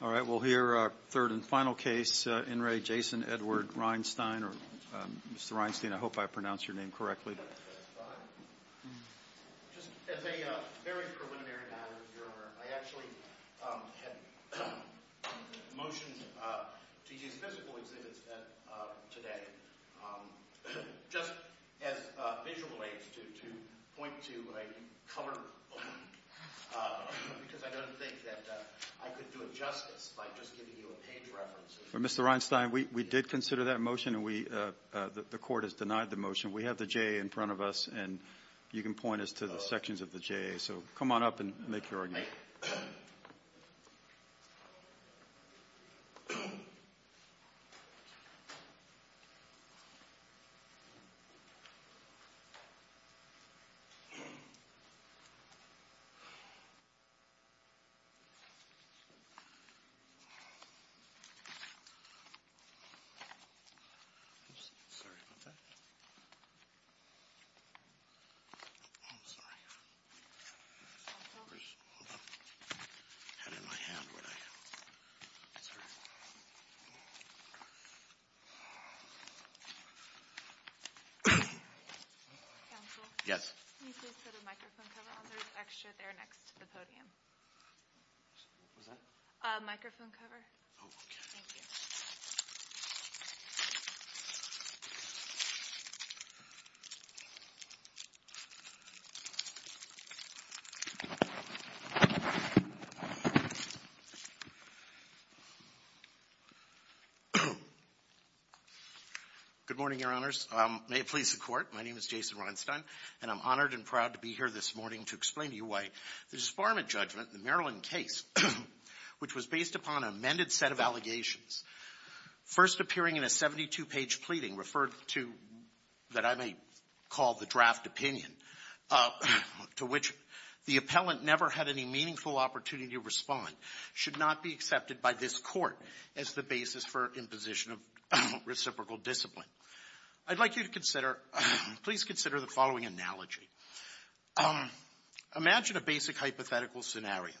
All right, we'll hear our third and final case, in re, Jason Edward Rheinstein or Mr. Rheinstein. I hope I pronounced your name correctly. As a very preliminary matter, Your Honor, I actually had motions to use physical exhibits today, just as visual aids to point to a colored book, because I don't think that I could do it justice by just giving you a page reference. Mr. Rheinstein, we did consider that motion and the court has denied the motion. We have the J.A. in front of us and you can point us to the sections of the J.A. So come on up and make your argument. I'm sorry about that. I'm sorry. Counsel? Hold on. I had it in my hand, but I... I'm sorry. Counsel? Yes. Can you please put a microphone cover on? There's extra there next to the podium. What was that? A microphone cover. Oh, okay. Thank you. Good morning, Your Honors. May it please the Court, my name is Jason Rheinstein and I'm honored and proud to be here this morning to explain to you why the disbarment judgment in the Maryland case, which was based upon an amended set of allegations, first appearing in a 72-page pleading referred to that I may call the draft opinion, to which the appellant never had any meaningful opportunity to respond, should not be accepted by this court as the basis for imposition of reciprocal discipline. I'd like you to consider, please consider the following analogy. Imagine a basic hypothetical scenario.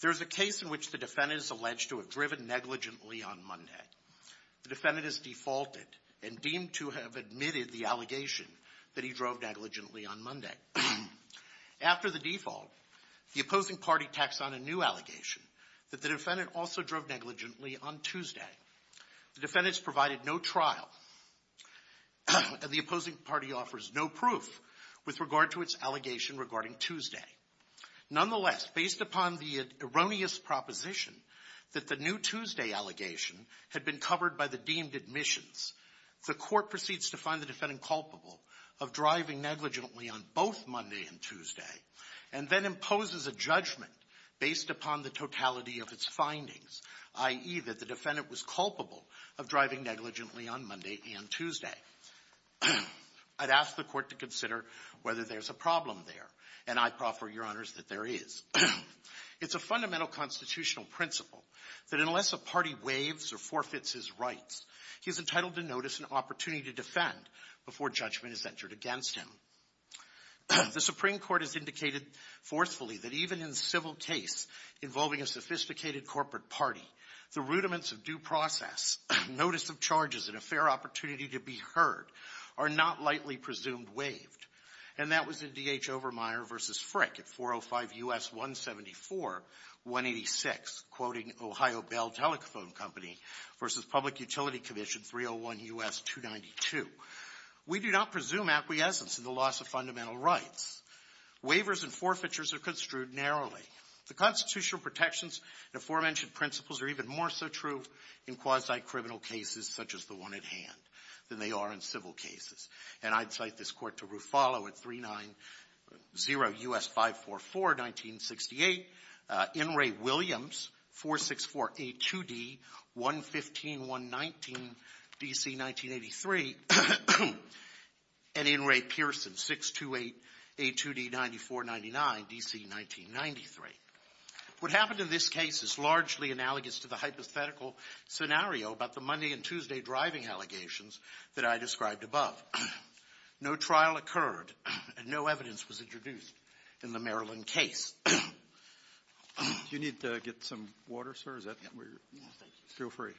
There's a case in which the defendant is alleged to have driven negligently on Monday. The defendant is defaulted and deemed to have admitted the allegation that he drove negligently on Monday. After the default, the opposing party tacks on a new allegation that the defendant also drove negligently on Tuesday. The defendant's provided no trial and the opposing party offers no proof with regard to its allegation regarding Tuesday. Nonetheless, based upon the erroneous proposition that the new Tuesday allegation had been covered by the deemed admissions, the court proceeds to find the defendant culpable of driving negligently on both Monday and Tuesday and then imposes a judgment based upon the totality of its findings, i.e., that the defendant was culpable of driving negligently on Monday and Tuesday. I'd ask the court to consider whether there's a problem there, and I proffer, Your Honors, that there is. It's a fundamental constitutional principle that unless a party waives or forfeits his rights, he's entitled to notice an opportunity to defend before judgment is entered against him. The Supreme Court has indicated forcefully that even in civil case involving a sophisticated corporate party, the rudiments of due process, notice of charges, and a fair opportunity to be heard are not lightly presumed waived, and that was in D.H. Overmyer v. Frick at 405 U.S. 174-186, quoting Ohio Bell Telephone Company v. Public Utility Commission 301 U.S. 292. We do not presume acquiescence in the loss of fundamental rights. Waivers and forfeitures are construed narrowly. The constitutional protections and aforementioned principles are even more so true in quasi-criminal cases such as the one at hand than they are in civil cases. And I'd cite this Court to Ruffalo at 390 U.S. 544-1968, In re. Williams, 464A2D-115-119, D.C. 1983, and In re. Pearson, 628A2D-9499, D.C. 1993. What happened in this case is largely analogous to the hypothetical scenario about the Monday and Tuesday driving allegations that I described above. No trial occurred and no evidence was introduced in the Maryland case. Do you need to get some water, sir? Is that where you're? No, thank you. Feel free.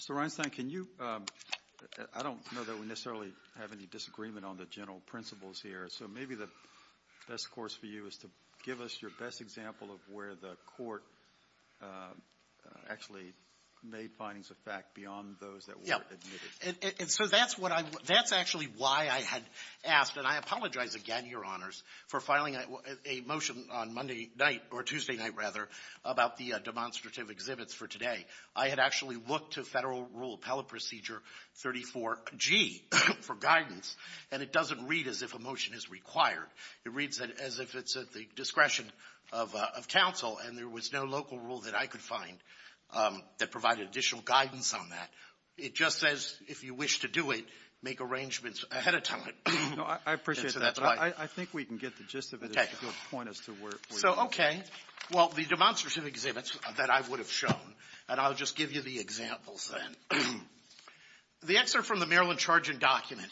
Mr. Reinstein, can you – I don't know that we necessarily have any disagreement on the general principles here, so maybe the best course for you is to give us your best example of where the Court actually made findings of fact beyond those that were admitted. Yeah. And so that's what I – that's actually why I had asked, and I apologize again, Your Honors, for filing a motion on Monday night, or Tuesday night, rather, about the demonstrative exhibits for today. I had actually looked to Federal Rule Appellate Procedure 34G for guidance, and it doesn't read as if a motion is required. It reads as if it's at the discretion of counsel, and there was no local rule that I could find that provided additional guidance on that. It just says, if you wish to do it, make arrangements ahead of time. No, I appreciate that. I think we can get the gist of it if you'll point us to where you're going. So, okay, well, the demonstrative exhibits that I would have shown, and I'll just give you the examples then. The excerpt from the Maryland Charging Document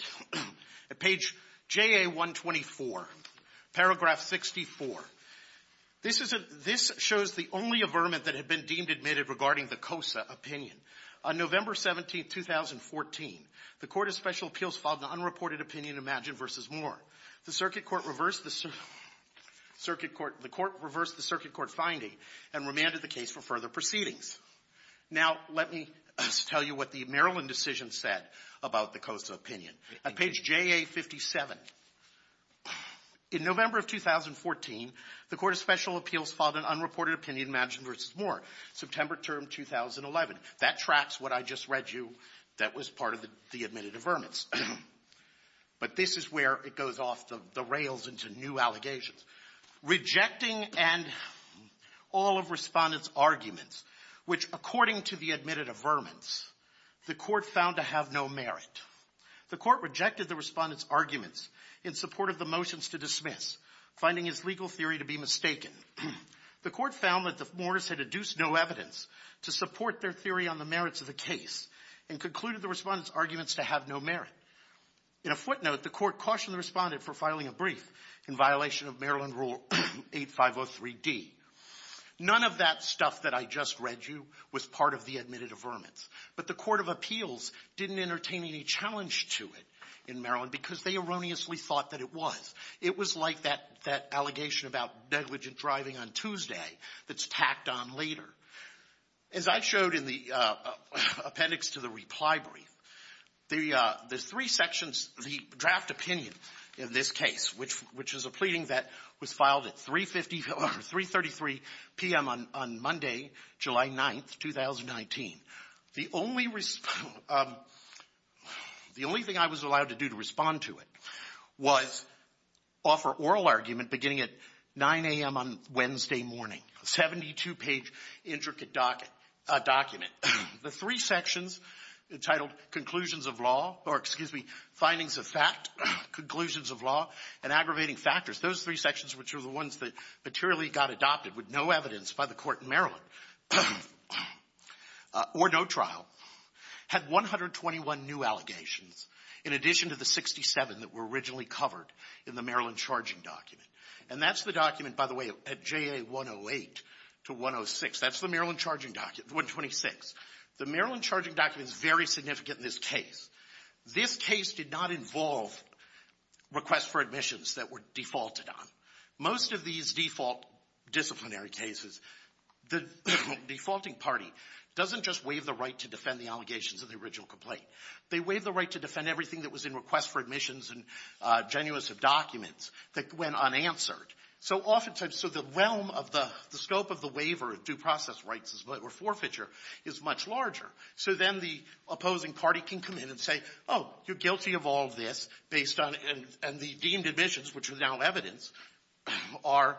at page JA-124, paragraph 64. This shows the only averment that had been deemed admitted regarding the COSA opinion. On November 17, 2014, the Court of Special Appeals filed an unreported opinion, Imagine v. Moore. The circuit court reversed the circuit court finding and remanded the case for further proceedings. Now, let me tell you what the Maryland decision said about the COSA opinion. At page JA-57, in November of 2014, the Court of Special Appeals filed an unreported opinion, Imagine v. Moore, September term 2011. That tracks what I just read you that was part of the admitted averments. But this is where it goes off the rails into new allegations. Rejecting and all of respondents' arguments, which, according to the admitted averments, the court found to have no merit. The court rejected the respondents' arguments in support of the motions to dismiss, finding his legal theory to be mistaken. The court found that the mourners had adduced no evidence to support their theory on the merits of the case and concluded the respondents' arguments to have no merit. In a footnote, the court cautioned the respondent for filing a brief in violation of Maryland Rule 8503D. None of that stuff that I just read you was part of the admitted averments. But the Court of Appeals didn't entertain any challenge to it in Maryland because they erroneously thought that it was. It was like that allegation about negligent driving on Tuesday that's tacked on later. As I showed in the appendix to the reply brief, the three sections, the draft opinion in this case, which is a pleading that was filed at 333 p.m. on Monday, July 9th, 2019, the only thing I was allowed to do to respond to it was offer oral argument beginning at 9 a.m. on Wednesday morning. A 72-page intricate document. The three sections entitled conclusions of law or, excuse me, findings of fact, conclusions of law, and aggravating factors, those three sections which are the ones that materially got adopted with no evidence by the court in Maryland or no trial, had 121 new allegations in addition to the 67 that were originally covered in the Maryland charging document. And that's the document, by the way, at JA 108 to 106. That's the Maryland charging document, 126. The Maryland charging document is very significant in this case. This case did not involve requests for admissions that were defaulted on. Most of these default disciplinary cases, the defaulting party doesn't just waive the right to defend the allegations of the original complaint. They waive the right to defend everything that was in requests for admissions and genuines of documents that went unanswered. So oftentimes, so the realm of the scope of the waiver of due process rights or forfeiture is much larger. So then the opposing party can come in and say, oh, you're guilty of all this based on, and the deemed admissions, which are now evidence, are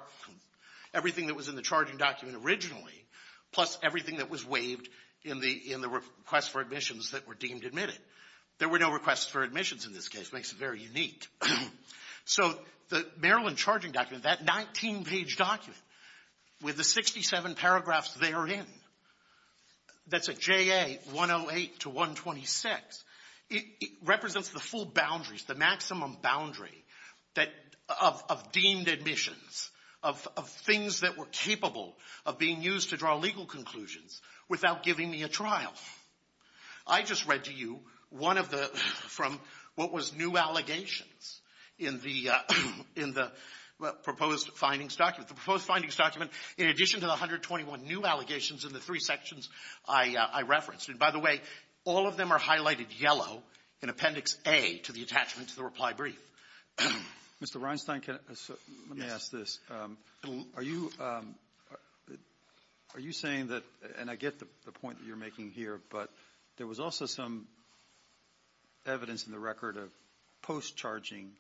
everything that was in the charging document originally plus everything that was waived in the request for admissions that were deemed admitted. There were no requests for admissions in this case. This makes it very unique. So the Maryland charging document, that 19-page document with the 67 paragraphs therein, that's at JA 108 to 126, it represents the full boundaries, the maximum boundary of deemed admissions, of things that were capable of being used to draw legal conclusions without giving me a trial. I just read to you one of the, from what was new allegations in the proposed findings document. The proposed findings document, in addition to the 121 new allegations in the three sections I referenced, and by the way, all of them are highlighted yellow in Appendix A to the attachment to the reply brief. Mr. Reinstein, let me ask this. Are you saying that, and I get the point that you're making here, but there was also some evidence in the record of post-charging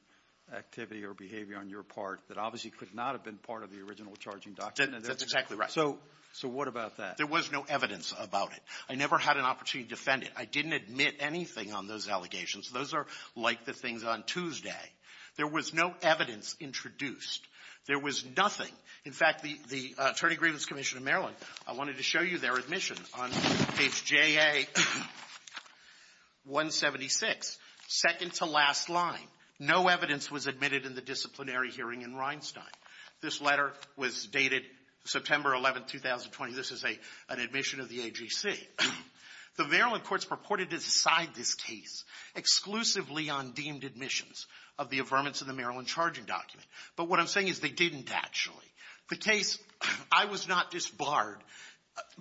activity or behavior on your part that obviously could not have been part of the original charging document. That's exactly right. So what about that? There was no evidence about it. I never had an opportunity to defend it. I didn't admit anything on those allegations. Those are like the things on Tuesday. There was no evidence introduced. There was nothing. In fact, the Attorney Grievance Commission of Maryland, I wanted to show you their admission on page JA 176, second-to-last line. No evidence was admitted in the disciplinary hearing in Reinstein. This letter was dated September 11th, 2020. This is an admission of the AGC. The Maryland courts purported to decide this case exclusively on deemed admissions of the affirmance of the Maryland charging document. But what I'm saying is they didn't actually. The case, I was not disbarred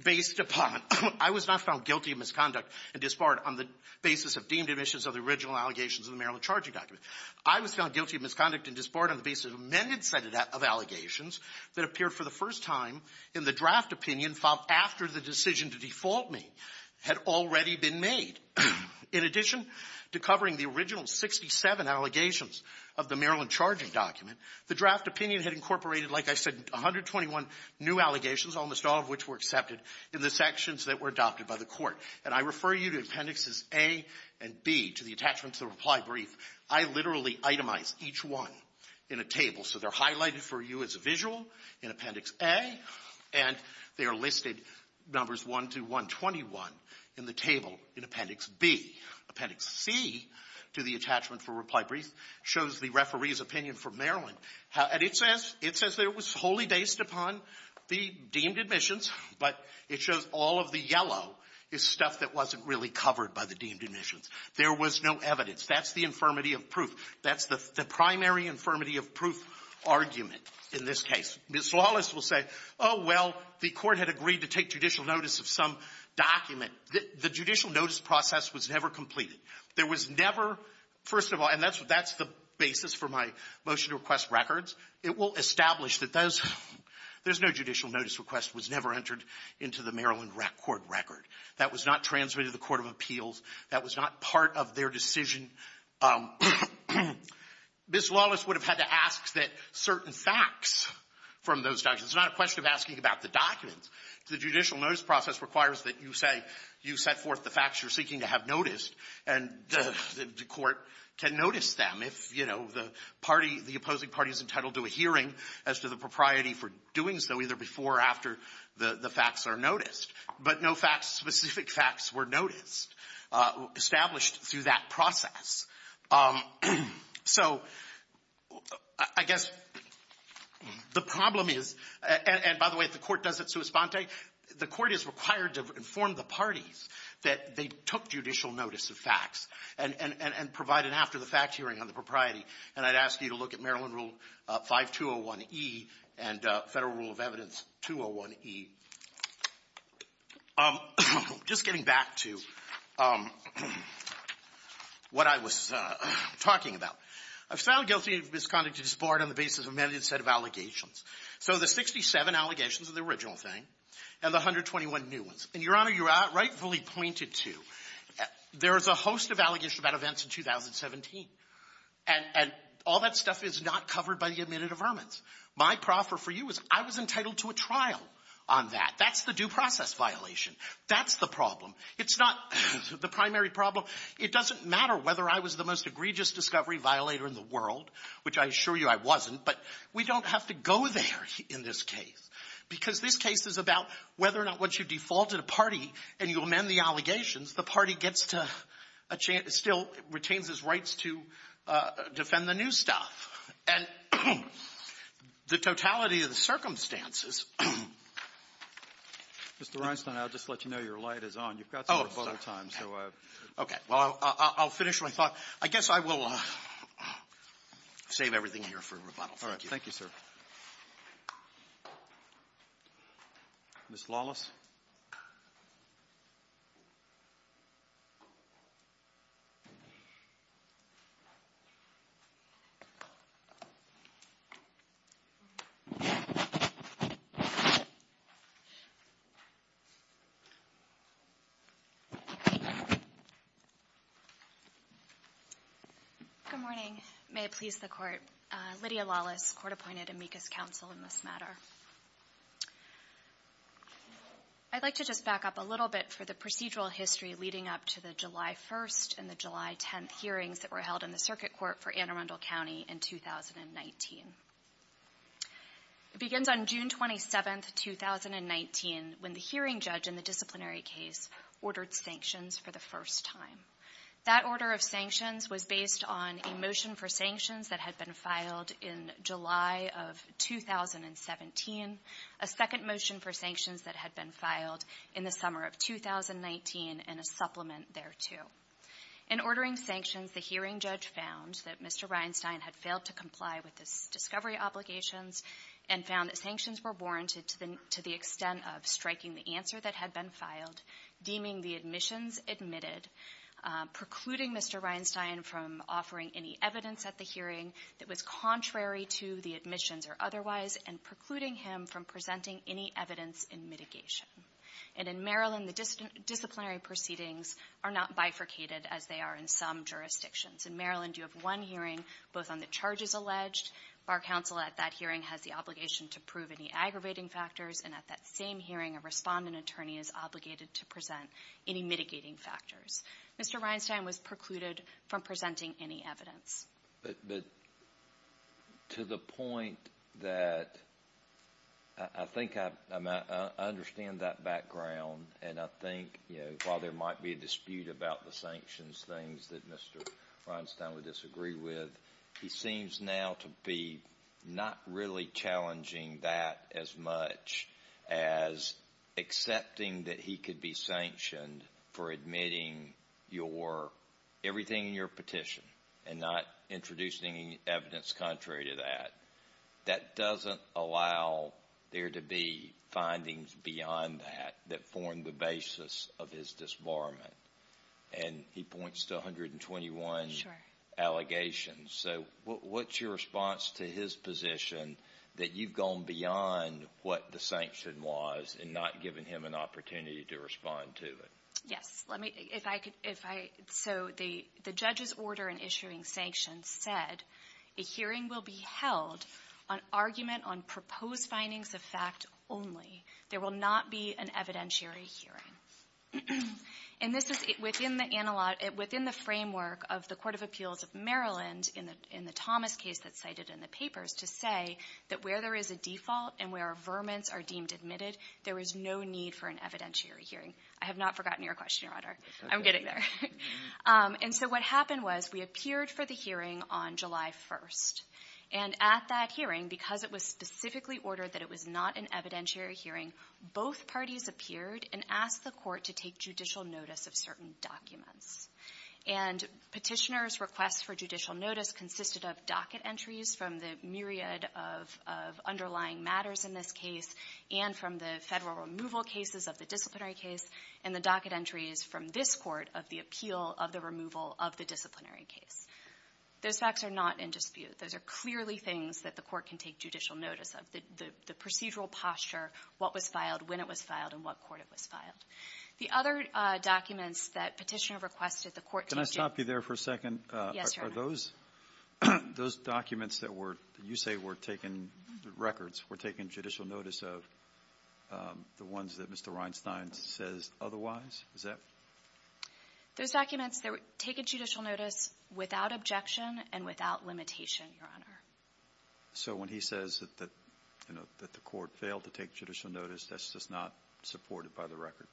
based upon — I was not found guilty of misconduct and disbarred on the basis of deemed admissions of the original allegations of the Maryland charging document. I was found guilty of misconduct and disbarred on the basis of an amended set of allegations that appeared for the first time in the draft opinion filed after the decision to default me had already been made. In addition to covering the original 67 allegations of the Maryland charging document, the draft opinion had incorporated, like I said, 121 new allegations, almost all of which were accepted in the sections that were adopted by the court. And I refer you to Appendixes A and B to the attachment to the reply brief. I literally itemize each one in a table. So they're highlighted for you as a visual in Appendix A, and they are listed numbers 1 to 121 in the table in Appendix B. Appendix C to the attachment for reply brief shows the referee's opinion for Maryland. And it says that it was wholly based upon the deemed admissions, but it shows all of the yellow is stuff that wasn't really covered by the deemed admissions. There was no evidence. That's the infirmity of proof. That's the primary infirmity of proof argument in this case. Ms. Wallace will say, oh, well, the Court had agreed to take judicial notice of some document. The judicial notice process was never completed. There was never, first of all, and that's the basis for my motion to request records, it will establish that those, there's no judicial notice request was never entered into the Maryland court record. That was not transmitted to the court of appeals. That was not part of their decision. Ms. Wallace would have had to ask that certain facts from those documents. It's not a question of asking about the documents. The judicial notice process requires that you say, you set forth the facts you're seeking to have noticed, and the Court can notice them if, you know, the party, the opposing party is entitled to a hearing as to the propriety for doing so either before or after the facts are noticed. But no facts, specific facts were noticed, established through that process. So I guess the problem is, and by the way, the Court does it sui sponte. The Court is required to inform the parties that they took judicial notice of facts and provide an after-the-fact hearing on the propriety. And I'd ask you to look at Maryland Rule 5201E and Federal Rule of Evidence 201E. Just getting back to what I was talking about, I've found guilty of misconduct to disbar it on the basis of a mandated set of allegations. So the 67 allegations of the original thing and the 121 new ones. And, Your Honor, you rightfully pointed to, there is a host of allegations about events in 2017, and all that stuff is not covered by the admitted affirmance. My proffer for you is I was entitled to a trial on that. That's the due process violation. That's the problem. It's not the primary problem. It doesn't matter whether I was the most egregious discovery violator in the world, which I assure you I wasn't, but we don't have to go there in this case because this case is about whether or not once you defaulted a party and you amend the allegations, the party gets to a chance, still retains its rights to defend the new stuff. And the totality of the circumstances — Roberts. Mr. Reinstein, I'll just let you know your light is on. You've got some rebuttal time, so — Okay. Well, I'll finish my thought. I guess I will save everything here for rebuttal. Thank you. Thank you, sir. Ms. Lawless. Good morning. May it please the Court. Lydia Lawless, Court-Appointed Amicus Counsel in this matter. I'd like to just back up a little bit for the procedural history leading up to the July 1st and the July 10th hearings that were held in the Circuit Court for Anne Arundel County in 2019. It begins on June 27th, 2019, when the hearing judge in the disciplinary case ordered sanctions for the first time. That order of sanctions was based on a motion for sanctions that had been filed in July of 2017, a second motion for sanctions that had been filed in the summer of 2019, and a supplement thereto. In ordering sanctions, the hearing judge found that Mr. Reinstein had failed to comply with his discovery obligations and found that sanctions were warranted to the extent of striking the answer that had been filed, deeming the admissions admitted, precluding Mr. Reinstein from offering any evidence at the hearing that was contrary to the admissions or otherwise, and precluding him from presenting any evidence in mitigation. And in Maryland, the disciplinary proceedings are not bifurcated as they are in some jurisdictions. In Maryland, you have one hearing, both on the charges alleged. Bar counsel at that hearing has the obligation to prove any aggravating factors, and at that same hearing, a respondent attorney is obligated to present any mitigating factors. Mr. Reinstein was precluded from presenting any evidence. But to the point that I think I understand that background, and I think, you know, while there might be a dispute about the sanctions things that Mr. Reinstein would disagree with, he seems now to be not really challenging that as much as accepting that he could be sanctioned for admitting everything in your petition and not introducing any evidence contrary to that. That doesn't allow there to be findings beyond that that form the basis of his disbarment. And he points to 121 allegations. So what's your response to his position that you've gone beyond what the sanction was and not given him an opportunity to respond to it? Yes. So the judge's order in issuing sanctions said, a hearing will be held on argument on proposed findings of fact only. There will not be an evidentiary hearing. And this is within the framework of the Court of Appeals of Maryland in the Thomas case that's cited in the papers to say that where there is a default and where our verments are deemed admitted, there is no need for an evidentiary hearing. I have not forgotten your question, Your Honor. I'm getting there. And so what happened was we appeared for the hearing on July 1st. And at that hearing, because it was specifically ordered that it was not an evidentiary hearing, both parties appeared and asked the court to take judicial notice of certain documents. And petitioners' requests for judicial notice consisted of docket entries from the myriad of underlying matters in this case and from the federal removal cases of the disciplinary case and the docket entries from this court of the appeal of the removal of the disciplinary case. Those facts are not in dispute. Those are clearly things that the court can take judicial notice of, the procedural posture, what was filed, when it was filed, and what court it was filed. The other documents that petitioner requests that the court take judicial notice of. Can I stop you there for a second? Yes, Your Honor. Are those documents that you say were taken, records, were taken judicial notice of the ones that Mr. Reinstein says otherwise? Is that? Those documents that were taken judicial notice without objection and without limitation, Your Honor. So when he says that the court failed to take judicial notice, that's just not supported by the record?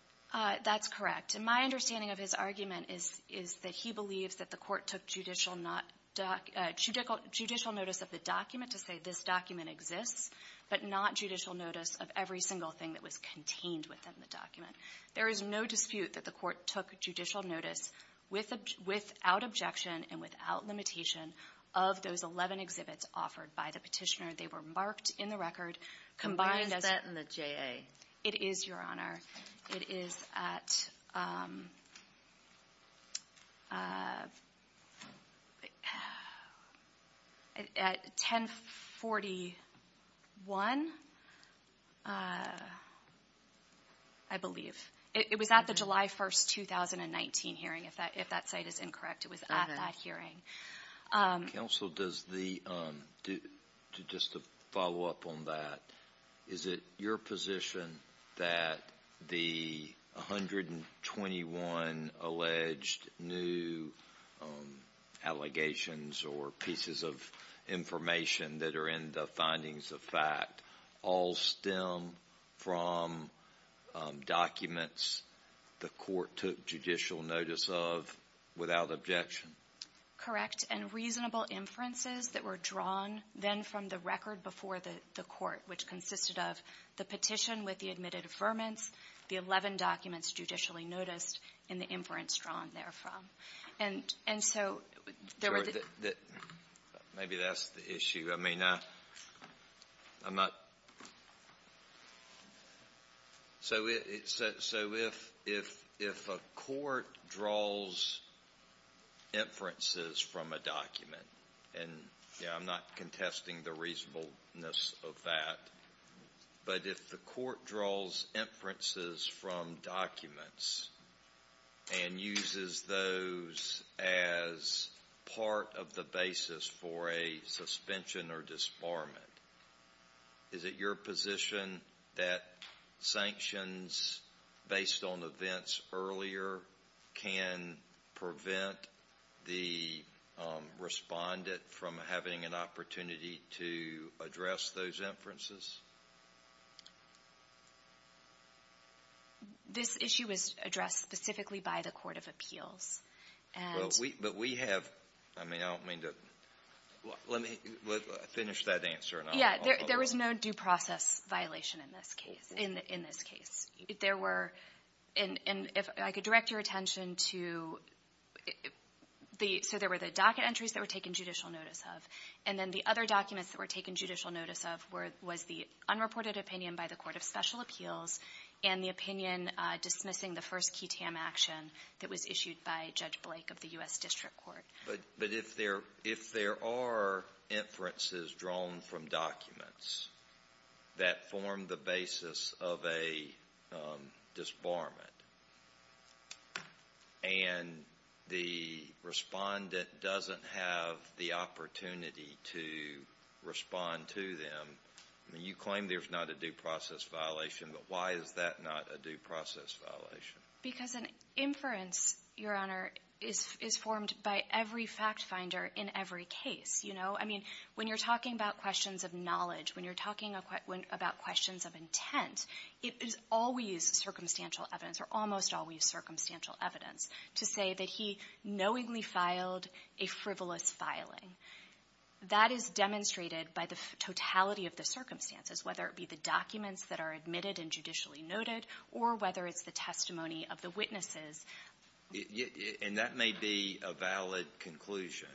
That's correct. And my understanding of his argument is that he believes that the court took judicial notice of the document to say this document exists, but not judicial notice of every single thing that was contained within the document. There is no dispute that the court took judicial notice without objection and without limitation of those 11 exhibits offered by the petitioner. They were marked in the record. Why is that in the JA? It is, Your Honor. It is at 1041, I believe. It was at the July 1, 2019 hearing, if that site is incorrect. It was at that hearing. Counsel, just to follow up on that, is it your position that the 121 alleged new allegations or pieces of information that are in the findings of fact all stem from documents the court took judicial notice of without objection? Correct. And reasonable inferences that were drawn then from the record before the court, which consisted of the petition with the admitted affirmants, the 11 documents judicially noticed, and the inference drawn therefrom. And so there were the ---- Maybe that's the issue. I mean, I'm not ---- So if a court draws inferences from a document, and I'm not contesting the reasonableness of that, but if the court draws inferences from documents and uses those as part of the basis for a suspension or disbarment, is it your position that sanctions based on events earlier can prevent the respondent from having an opportunity to address those inferences? This issue was addressed specifically by the Court of Appeals. But we have ---- I mean, I don't mean to ---- Well, let me finish that answer. Yeah, there was no due process violation in this case. There were ---- And if I could direct your attention to the ---- So there were the docket entries that were taken judicial notice of, and then the other documents that were taken judicial notice of was the unreported opinion by the Court of Special Appeals and the opinion dismissing the first key TAM action that was issued by Judge Blake of the U.S. District Court. But if there are inferences drawn from documents that form the basis of a disbarment and the respondent doesn't have the opportunity to respond to them, I mean, you claim there's not a due process violation, but why is that not a due process violation? Because an inference, Your Honor, is formed by every fact finder in every case. You know, I mean, when you're talking about questions of knowledge, when you're talking about questions of intent, it is always circumstantial evidence or almost always circumstantial evidence to say that he knowingly filed a frivolous filing. That is demonstrated by the totality of the circumstances, whether it be the documents that are admitted and judicially noted or whether it's the testimony of the witnesses. And that may be a valid conclusion.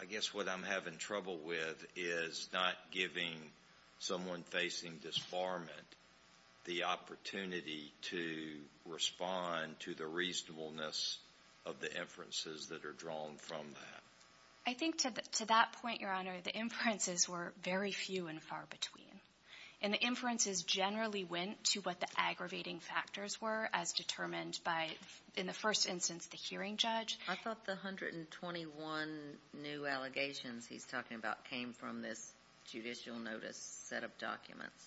I guess what I'm having trouble with is not giving someone facing disbarment the opportunity to respond to the reasonableness of the inferences that are drawn from that. I think to that point, Your Honor, the inferences were very few and far between. And the inferences generally went to what the aggravating factors were as determined by, in the first instance, the hearing judge. I thought the 121 new allegations he's talking about came from this judicial notice set of documents.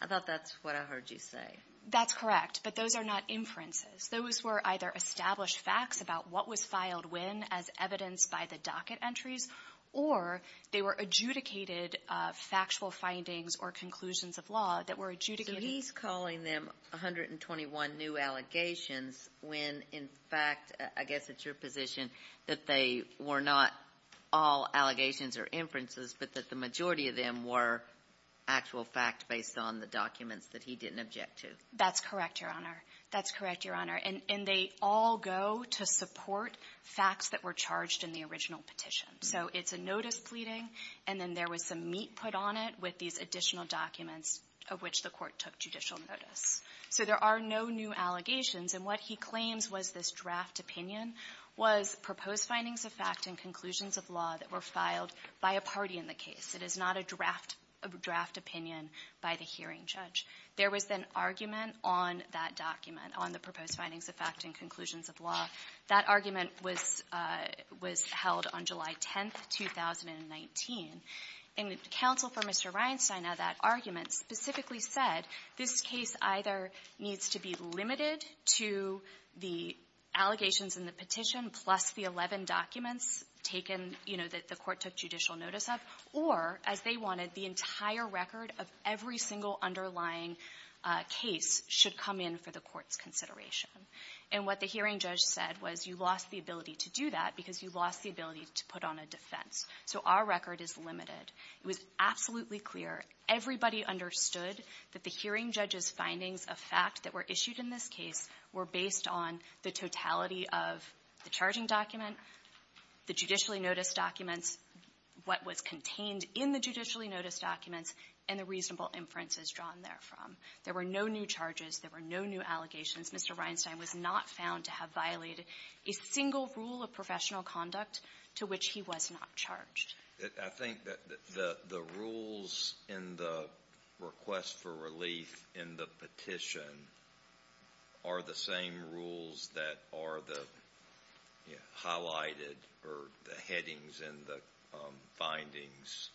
I thought that's what I heard you say. That's correct, but those are not inferences. Those were either established facts about what was filed when as evidenced by the docket entries or they were adjudicated factual findings or conclusions of law that were adjudicated. So he's calling them 121 new allegations when, in fact, I guess it's your position that they were not all allegations or inferences, but that the majority of them were actual fact based on the documents that he didn't object to. That's correct, Your Honor. That's correct, Your Honor. And they all go to support facts that were charged in the original petition. So it's a notice pleading, and then there was some meat put on it with these additional documents of which the court took judicial notice. So there are no new allegations. And what he claims was this draft opinion was proposed findings of fact and conclusions of law that were filed by a party in the case. It is not a draft opinion by the hearing judge. There was an argument on that document, on the proposed findings of fact and conclusions of law. That argument was held on July 10th, 2019. And counsel for Mr. Reinstein of that argument specifically said this case either needs to be limited to the allegations in the petition plus the 11 documents taken, you know, that the court took judicial notice of, or as they wanted, the entire record of every single underlying case should come in for the court's consideration. And what the hearing judge said was you lost the ability to do that because you lost the ability to put on a defense. So our record is limited. It was absolutely clear. Everybody understood that the hearing judge's findings of fact that were issued in this case were based on the totality of the charging document, the judicially notice documents, what was contained in the judicially notice documents, and the reasonable inferences drawn therefrom. There were no new charges. There were no new allegations. Mr. Reinstein was not found to have violated a single rule of professional conduct to which he was not charged. I think that the rules in the request for relief in the petition are the same rules that are the highlighted or the headings in the findings.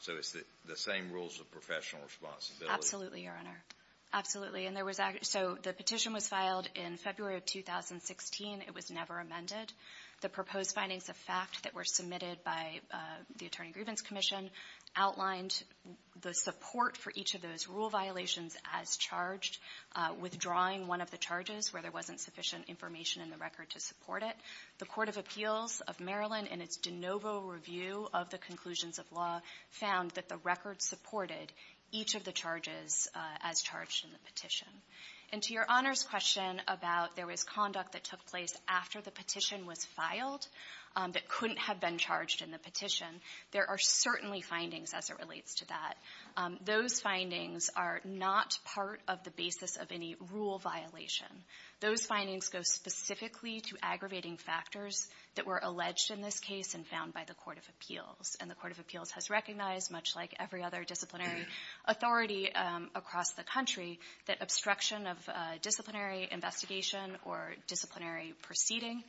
So it's the same rules of professional responsibility? Absolutely, Your Honor. Absolutely. So the petition was filed in February of 2016. It was never amended. The proposed findings of fact that were submitted by the Attorney-Grievance Commission outlined the support for each of those rule violations as charged, withdrawing one of the charges where there wasn't sufficient information in the record to support it. The Court of Appeals of Maryland, in its de novo review of the conclusions of law, found that the record supported each of the charges as charged in the petition. And to Your Honor's question about there was conduct that took place after the petition was filed that couldn't have been charged in the petition, there are certainly findings as it relates to that. Those findings are not part of the basis of any rule violation. Those findings go specifically to aggravating factors that were alleged in this case and found by the Court of Appeals. And the Court of Appeals has recognized, much like every other disciplinary authority across the country, that obstruction of disciplinary investigation or disciplinary proceeding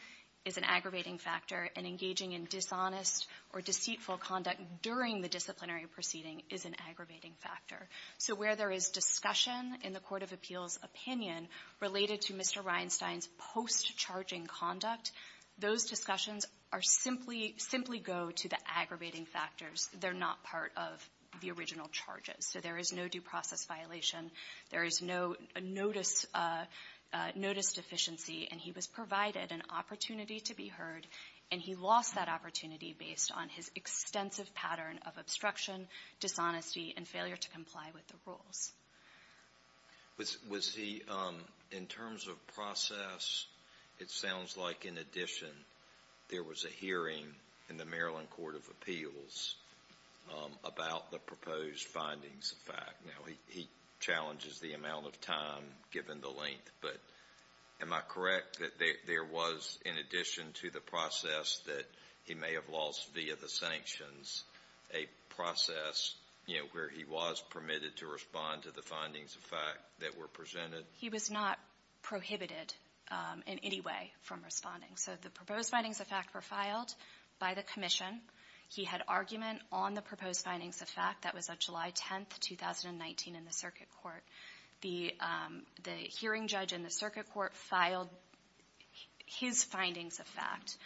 is an aggravating factor, and engaging in dishonest or deceitful conduct during the disciplinary proceeding is an aggravating factor. So where there is discussion in the Court of Appeals' opinion related to Mr. Reinstein's post-charging conduct, those discussions are simply go to the aggravating factors. They're not part of the original charges. So there is no due process violation. There is no notice deficiency. And he was provided an opportunity to be heard, and he lost that opportunity based on his extensive pattern of obstruction, dishonesty, and failure to comply with the rules. Was he, in terms of process, it sounds like in addition there was a hearing in the Maryland Court of Appeals about the proposed findings, in fact. Now, he challenges the amount of time given the length, but am I correct that there was, in addition to the process that he may have lost via the sanctions, a process where he was permitted to respond to the findings of fact that were presented? He was not prohibited in any way from responding. So the proposed findings of fact were filed by the commission. He had argument on the proposed findings of fact. That was on July 10, 2019, in the circuit court. The hearing judge in the circuit court filed his findings of fact.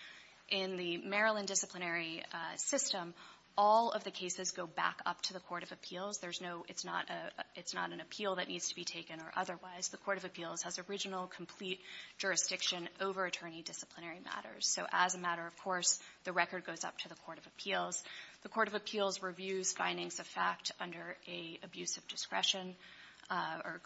In the Maryland disciplinary system, all of the findings of fact go up to the court of appeals. It's not an appeal that needs to be taken or otherwise. The court of appeals has original, complete jurisdiction over attorney disciplinary matters. So as a matter of course, the record goes up to the court of appeals. The court of appeals reviews findings of fact under an abusive discretion, or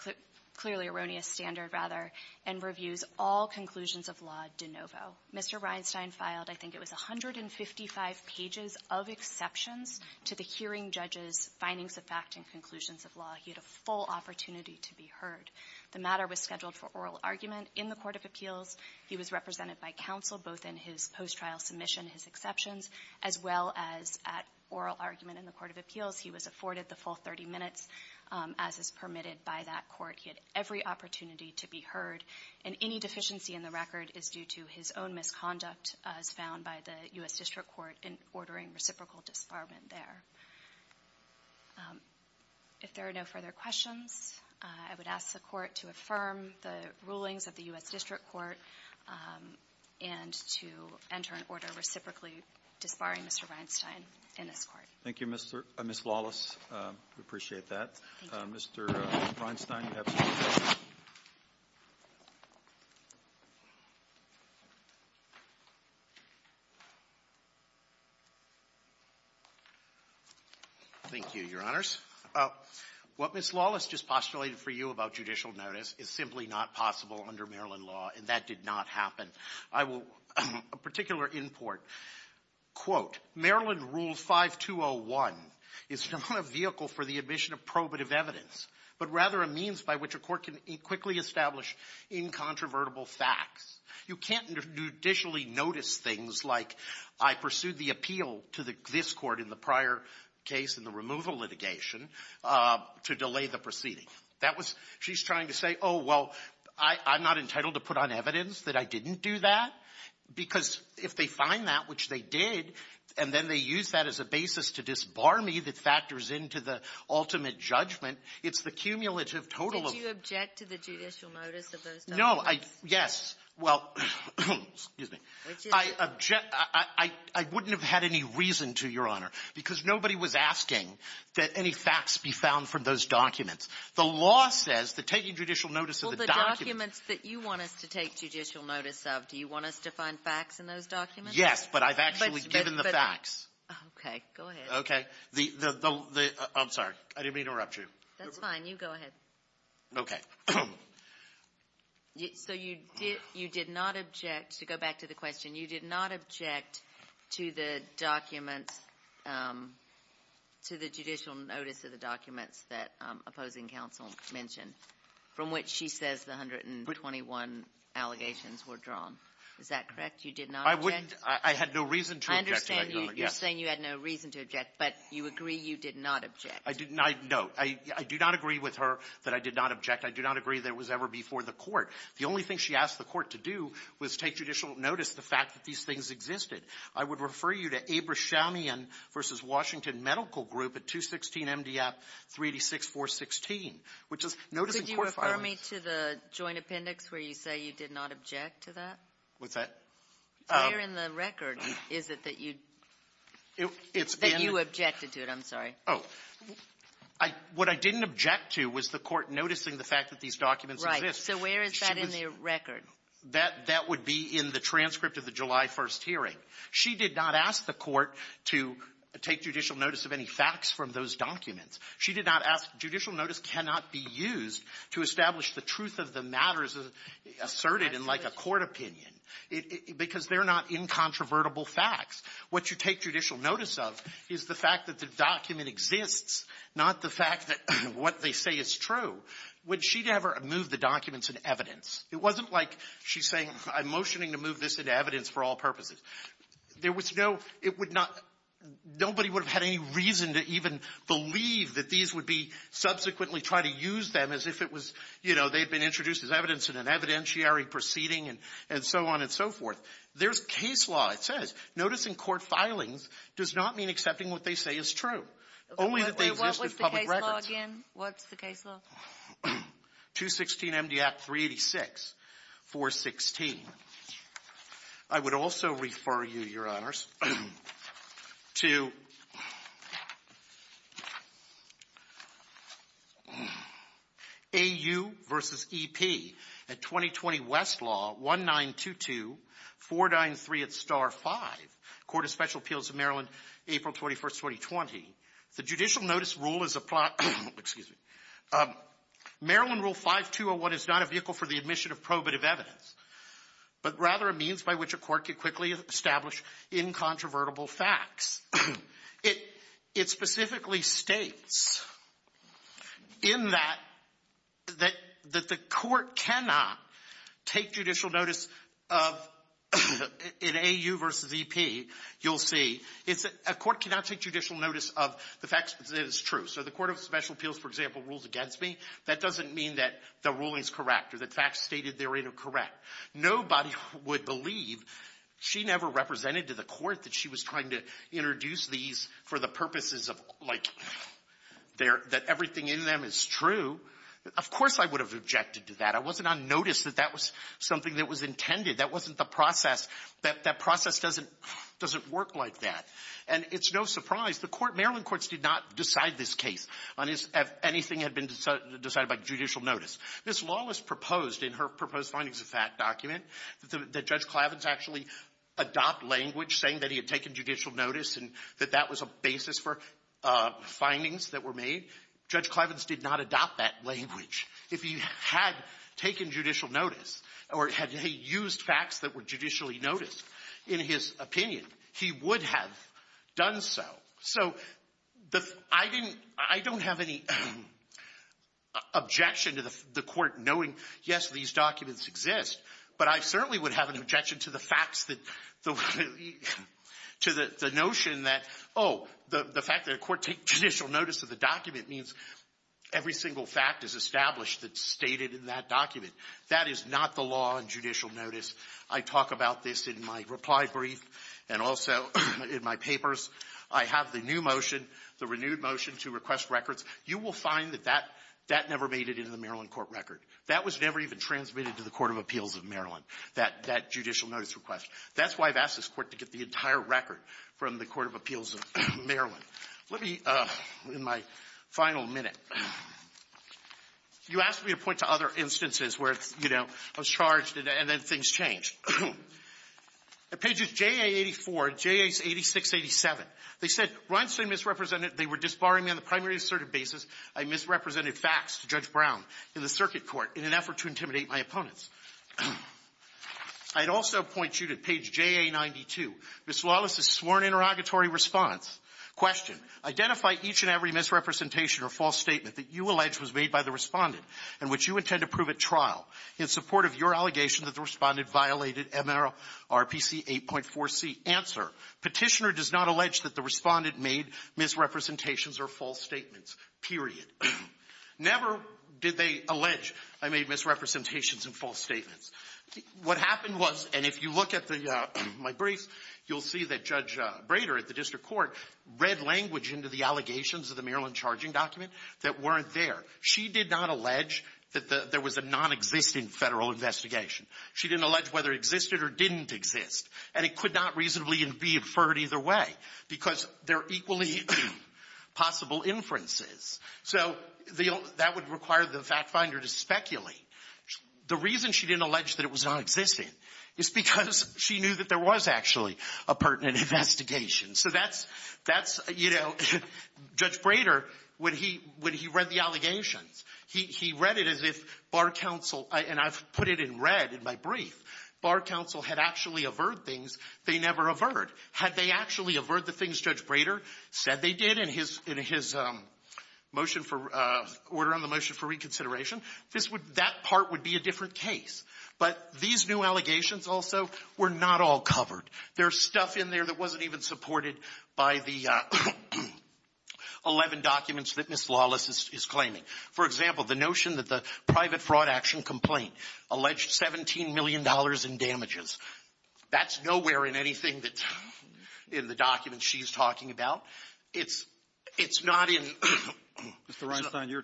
clearly erroneous standard, rather, and reviews all conclusions of law de novo. Mr. Reinstein filed, I think it was 155 pages of exceptions to the hearing judge's findings of fact and conclusions of law. He had a full opportunity to be heard. The matter was scheduled for oral argument in the court of appeals. He was represented by counsel both in his post-trial submission, his exceptions, as well as at oral argument in the court of appeals. He was afforded the full 30 minutes as is permitted by that court. He had every opportunity to be heard. And any deficiency in the record is due to his own misconduct as found by the U.S. District Court in ordering reciprocal disbarment there. If there are no further questions, I would ask the Court to affirm the rulings of the U.S. District Court and to enter an order reciprocally disbarring Mr. Reinstein. Thank you, Your Honors. What Ms. Lawless just postulated for you about judicial notice is simply not possible under Maryland law, and that did not happen. I will, a particular import, quote, Maryland Rule 5201 is not a vehicle for the admission of probative evidence, but rather a means by which a court can quickly establish incontrovertible facts. You can't judicially notice things like I pursued the appeal to this Court in the prior case in the removal litigation to delay the proceeding. She's trying to say, oh, well, I'm not entitled to put on evidence that I didn't do that, because if they find that, which they did, and then they use that as a basis to disbar me that factors into the ultimate judgment, it's the cumulative total of — Did you object to the judicial notice of those documents? No. Yes. Well, excuse me. I object — I wouldn't have had any reason to, Your Honor, because nobody was asking that any facts be found from those documents. The law says that taking judicial notice of the documents — Well, the documents that you want us to take judicial notice of, do you want us to find facts in those documents? Yes, but I've actually given the facts. Okay. Go ahead. Okay. The — I'm sorry. I didn't mean to interrupt you. That's fine. You go ahead. Okay. So you did not object — to go back to the question, you did not object to the documents to the judicial notice of the documents that opposing counsel mentioned, from which she says the 121 allegations were drawn. Is that correct? You did not object? I wouldn't — I had no reason to object to that, Your Honor. Yes. I understand you're saying you had no reason to object, but you agree you did not object? I did not — no. I do not agree with her that I did not object. I do not agree that it was ever before the court. The only thing she asked the court to do was take judicial notice of the fact that these things existed. I would refer you to Abrishamian v. Washington Medical Group at 216MDF 386-416, which is noticing court filings. Could you refer me to the joint appendix where you say you did not object to that? What's that? Where in the record is it that you — that you objected to it? I'm sorry. Oh. I — what I didn't object to was the court noticing the fact that these documents existed. Right. So where is that in the record? That — that would be in the transcript of the July 1st hearing. She did not ask the court to take judicial notice of any facts from those documents. She did not ask — judicial notice cannot be used to establish the truth of the matters asserted in, like, a court opinion because they're not incontrovertible facts. What you take judicial notice of is the fact that the document exists, not the fact that what they say is true. When she never moved the documents into evidence, it wasn't like she's saying, I'm motioning to move this into evidence for all purposes. There was no — it would not — nobody would have had any reason to even believe that these would be subsequently tried to use them as if it was, you know, they had been introduced as evidence in an evidentiary proceeding and so on and so forth. There's case law, it says. Noticing court filings does not mean accepting what they say is true, only that they exist as public records. Kagan, what's the case law? 216MD Act 386, 416. I would also refer you, Your Honors, to AU v. E.P. at 2020 Westlaw, 1922, 493 at Star 5, Court of Special Appeals of Maryland, April 21st, 2020. The judicial notice rule is a plot — excuse me — Maryland Rule 5201 is not a vehicle for the admission of probative evidence, but rather a means by which a court can quickly establish incontrovertible facts. It specifically states in that that the court cannot take judicial notice of — in AU v. E.P., you'll see, it's a court cannot take judicial notice of the facts that is true. So the Court of Special Appeals, for example, rules against me. That doesn't mean that the ruling is correct or the facts stated therein are correct. Nobody would believe she never represented to the court that she was trying to introduce these for the purposes of, like, that everything in them is true. Of course I would have objected to that. I wasn't on notice that that was something that was intended. That wasn't the process. That process doesn't — doesn't work like that. And it's no surprise. The court — Maryland courts did not decide this case on if anything had been decided by judicial notice. Ms. Lawless proposed in her proposed findings of that document that Judge Clavins actually adopt language saying that he had taken judicial notice and that that was a basis for findings that were made. Judge Clavins did not adopt that language. If he had taken judicial notice or had used facts that were judicially noticed in his opinion, he would have done so. So the — I didn't — I don't have any objection to the court knowing, yes, these documents exist, but I certainly would have an objection to the facts that — to the notion that, oh, the fact that a court takes judicial notice of the document means every single fact is established that's stated in that document. That is not the law in judicial notice. I talk about this in my reply brief and also in my papers. I have the new motion, the renewed motion to request records. You will find that that never made it into the Maryland court record. That was never even transmitted to the Court of Appeals of Maryland, that judicial notice request. That's why I've asked this Court to get the entire record from the Court of Appeals of Maryland. Let me — in my final minute, you asked me to point to other instances where, you know, I was charged and then things changed. At pages JA-84, JA-86, 87, they said, Reinstein misrepresented — they were disbarring me on the primary assertive basis. I misrepresented facts to Judge Brown in the circuit court in an effort to intimidate my opponents. I'd also point you to page JA-92. Ms. Wallace's sworn interrogatory response. Question. Identify each and every misrepresentation or false statement that you allege was made by the Respondent and which you intend to prove at trial in support of your allegation that the Respondent violated MRPC 8.4c. Answer. Petitioner does not allege that the Respondent made misrepresentations or false statements, period. Never did they allege I made misrepresentations and false statements. What happened was — and if you look at my briefs, you'll see that Judge Brader at the district court read language into the allegations of the Maryland charging document that weren't there. She did not allege that there was a nonexistent federal investigation. She didn't allege whether it existed or didn't exist. And it could not reasonably be inferred either way because they're equally possible inferences. So that would require the fact finder to speculate. The reason she didn't allege that it was nonexistent is because she knew that there was actually a pertinent investigation. So that's — that's, you know, Judge Brader, when he read the allegations, he read it as if Bar Counsel — and I've put it in red in my brief. Bar Counsel had actually averred things they never averred. Had they actually averred the things Judge Brader said they did in his motion for — order on the motion for reconsideration, this would — that part would be a different case. But these new allegations also were not all covered. There's stuff in there that wasn't even supported by the 11 documents that Ms. Lawless is claiming. For example, the notion that the private fraud action complaint alleged $17 million in damages, that's nowhere in anything that's in the documents she's talking about. It's — it's not in — Mr. Reinstein, you're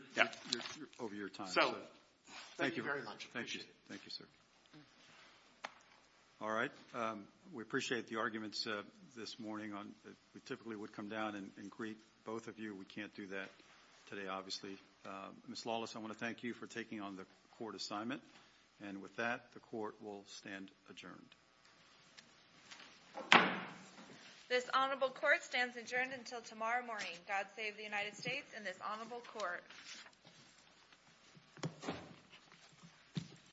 over your time. So, thank you very much. Thank you. Thank you, sir. All right. We appreciate the arguments this morning on — we typically would come down and greet both of you. We can't do that today, obviously. Ms. Lawless, I want to thank you for taking on the court assignment. And with that, the court will stand adjourned. This honorable court stands adjourned until tomorrow morning. God save the United States and this honorable court.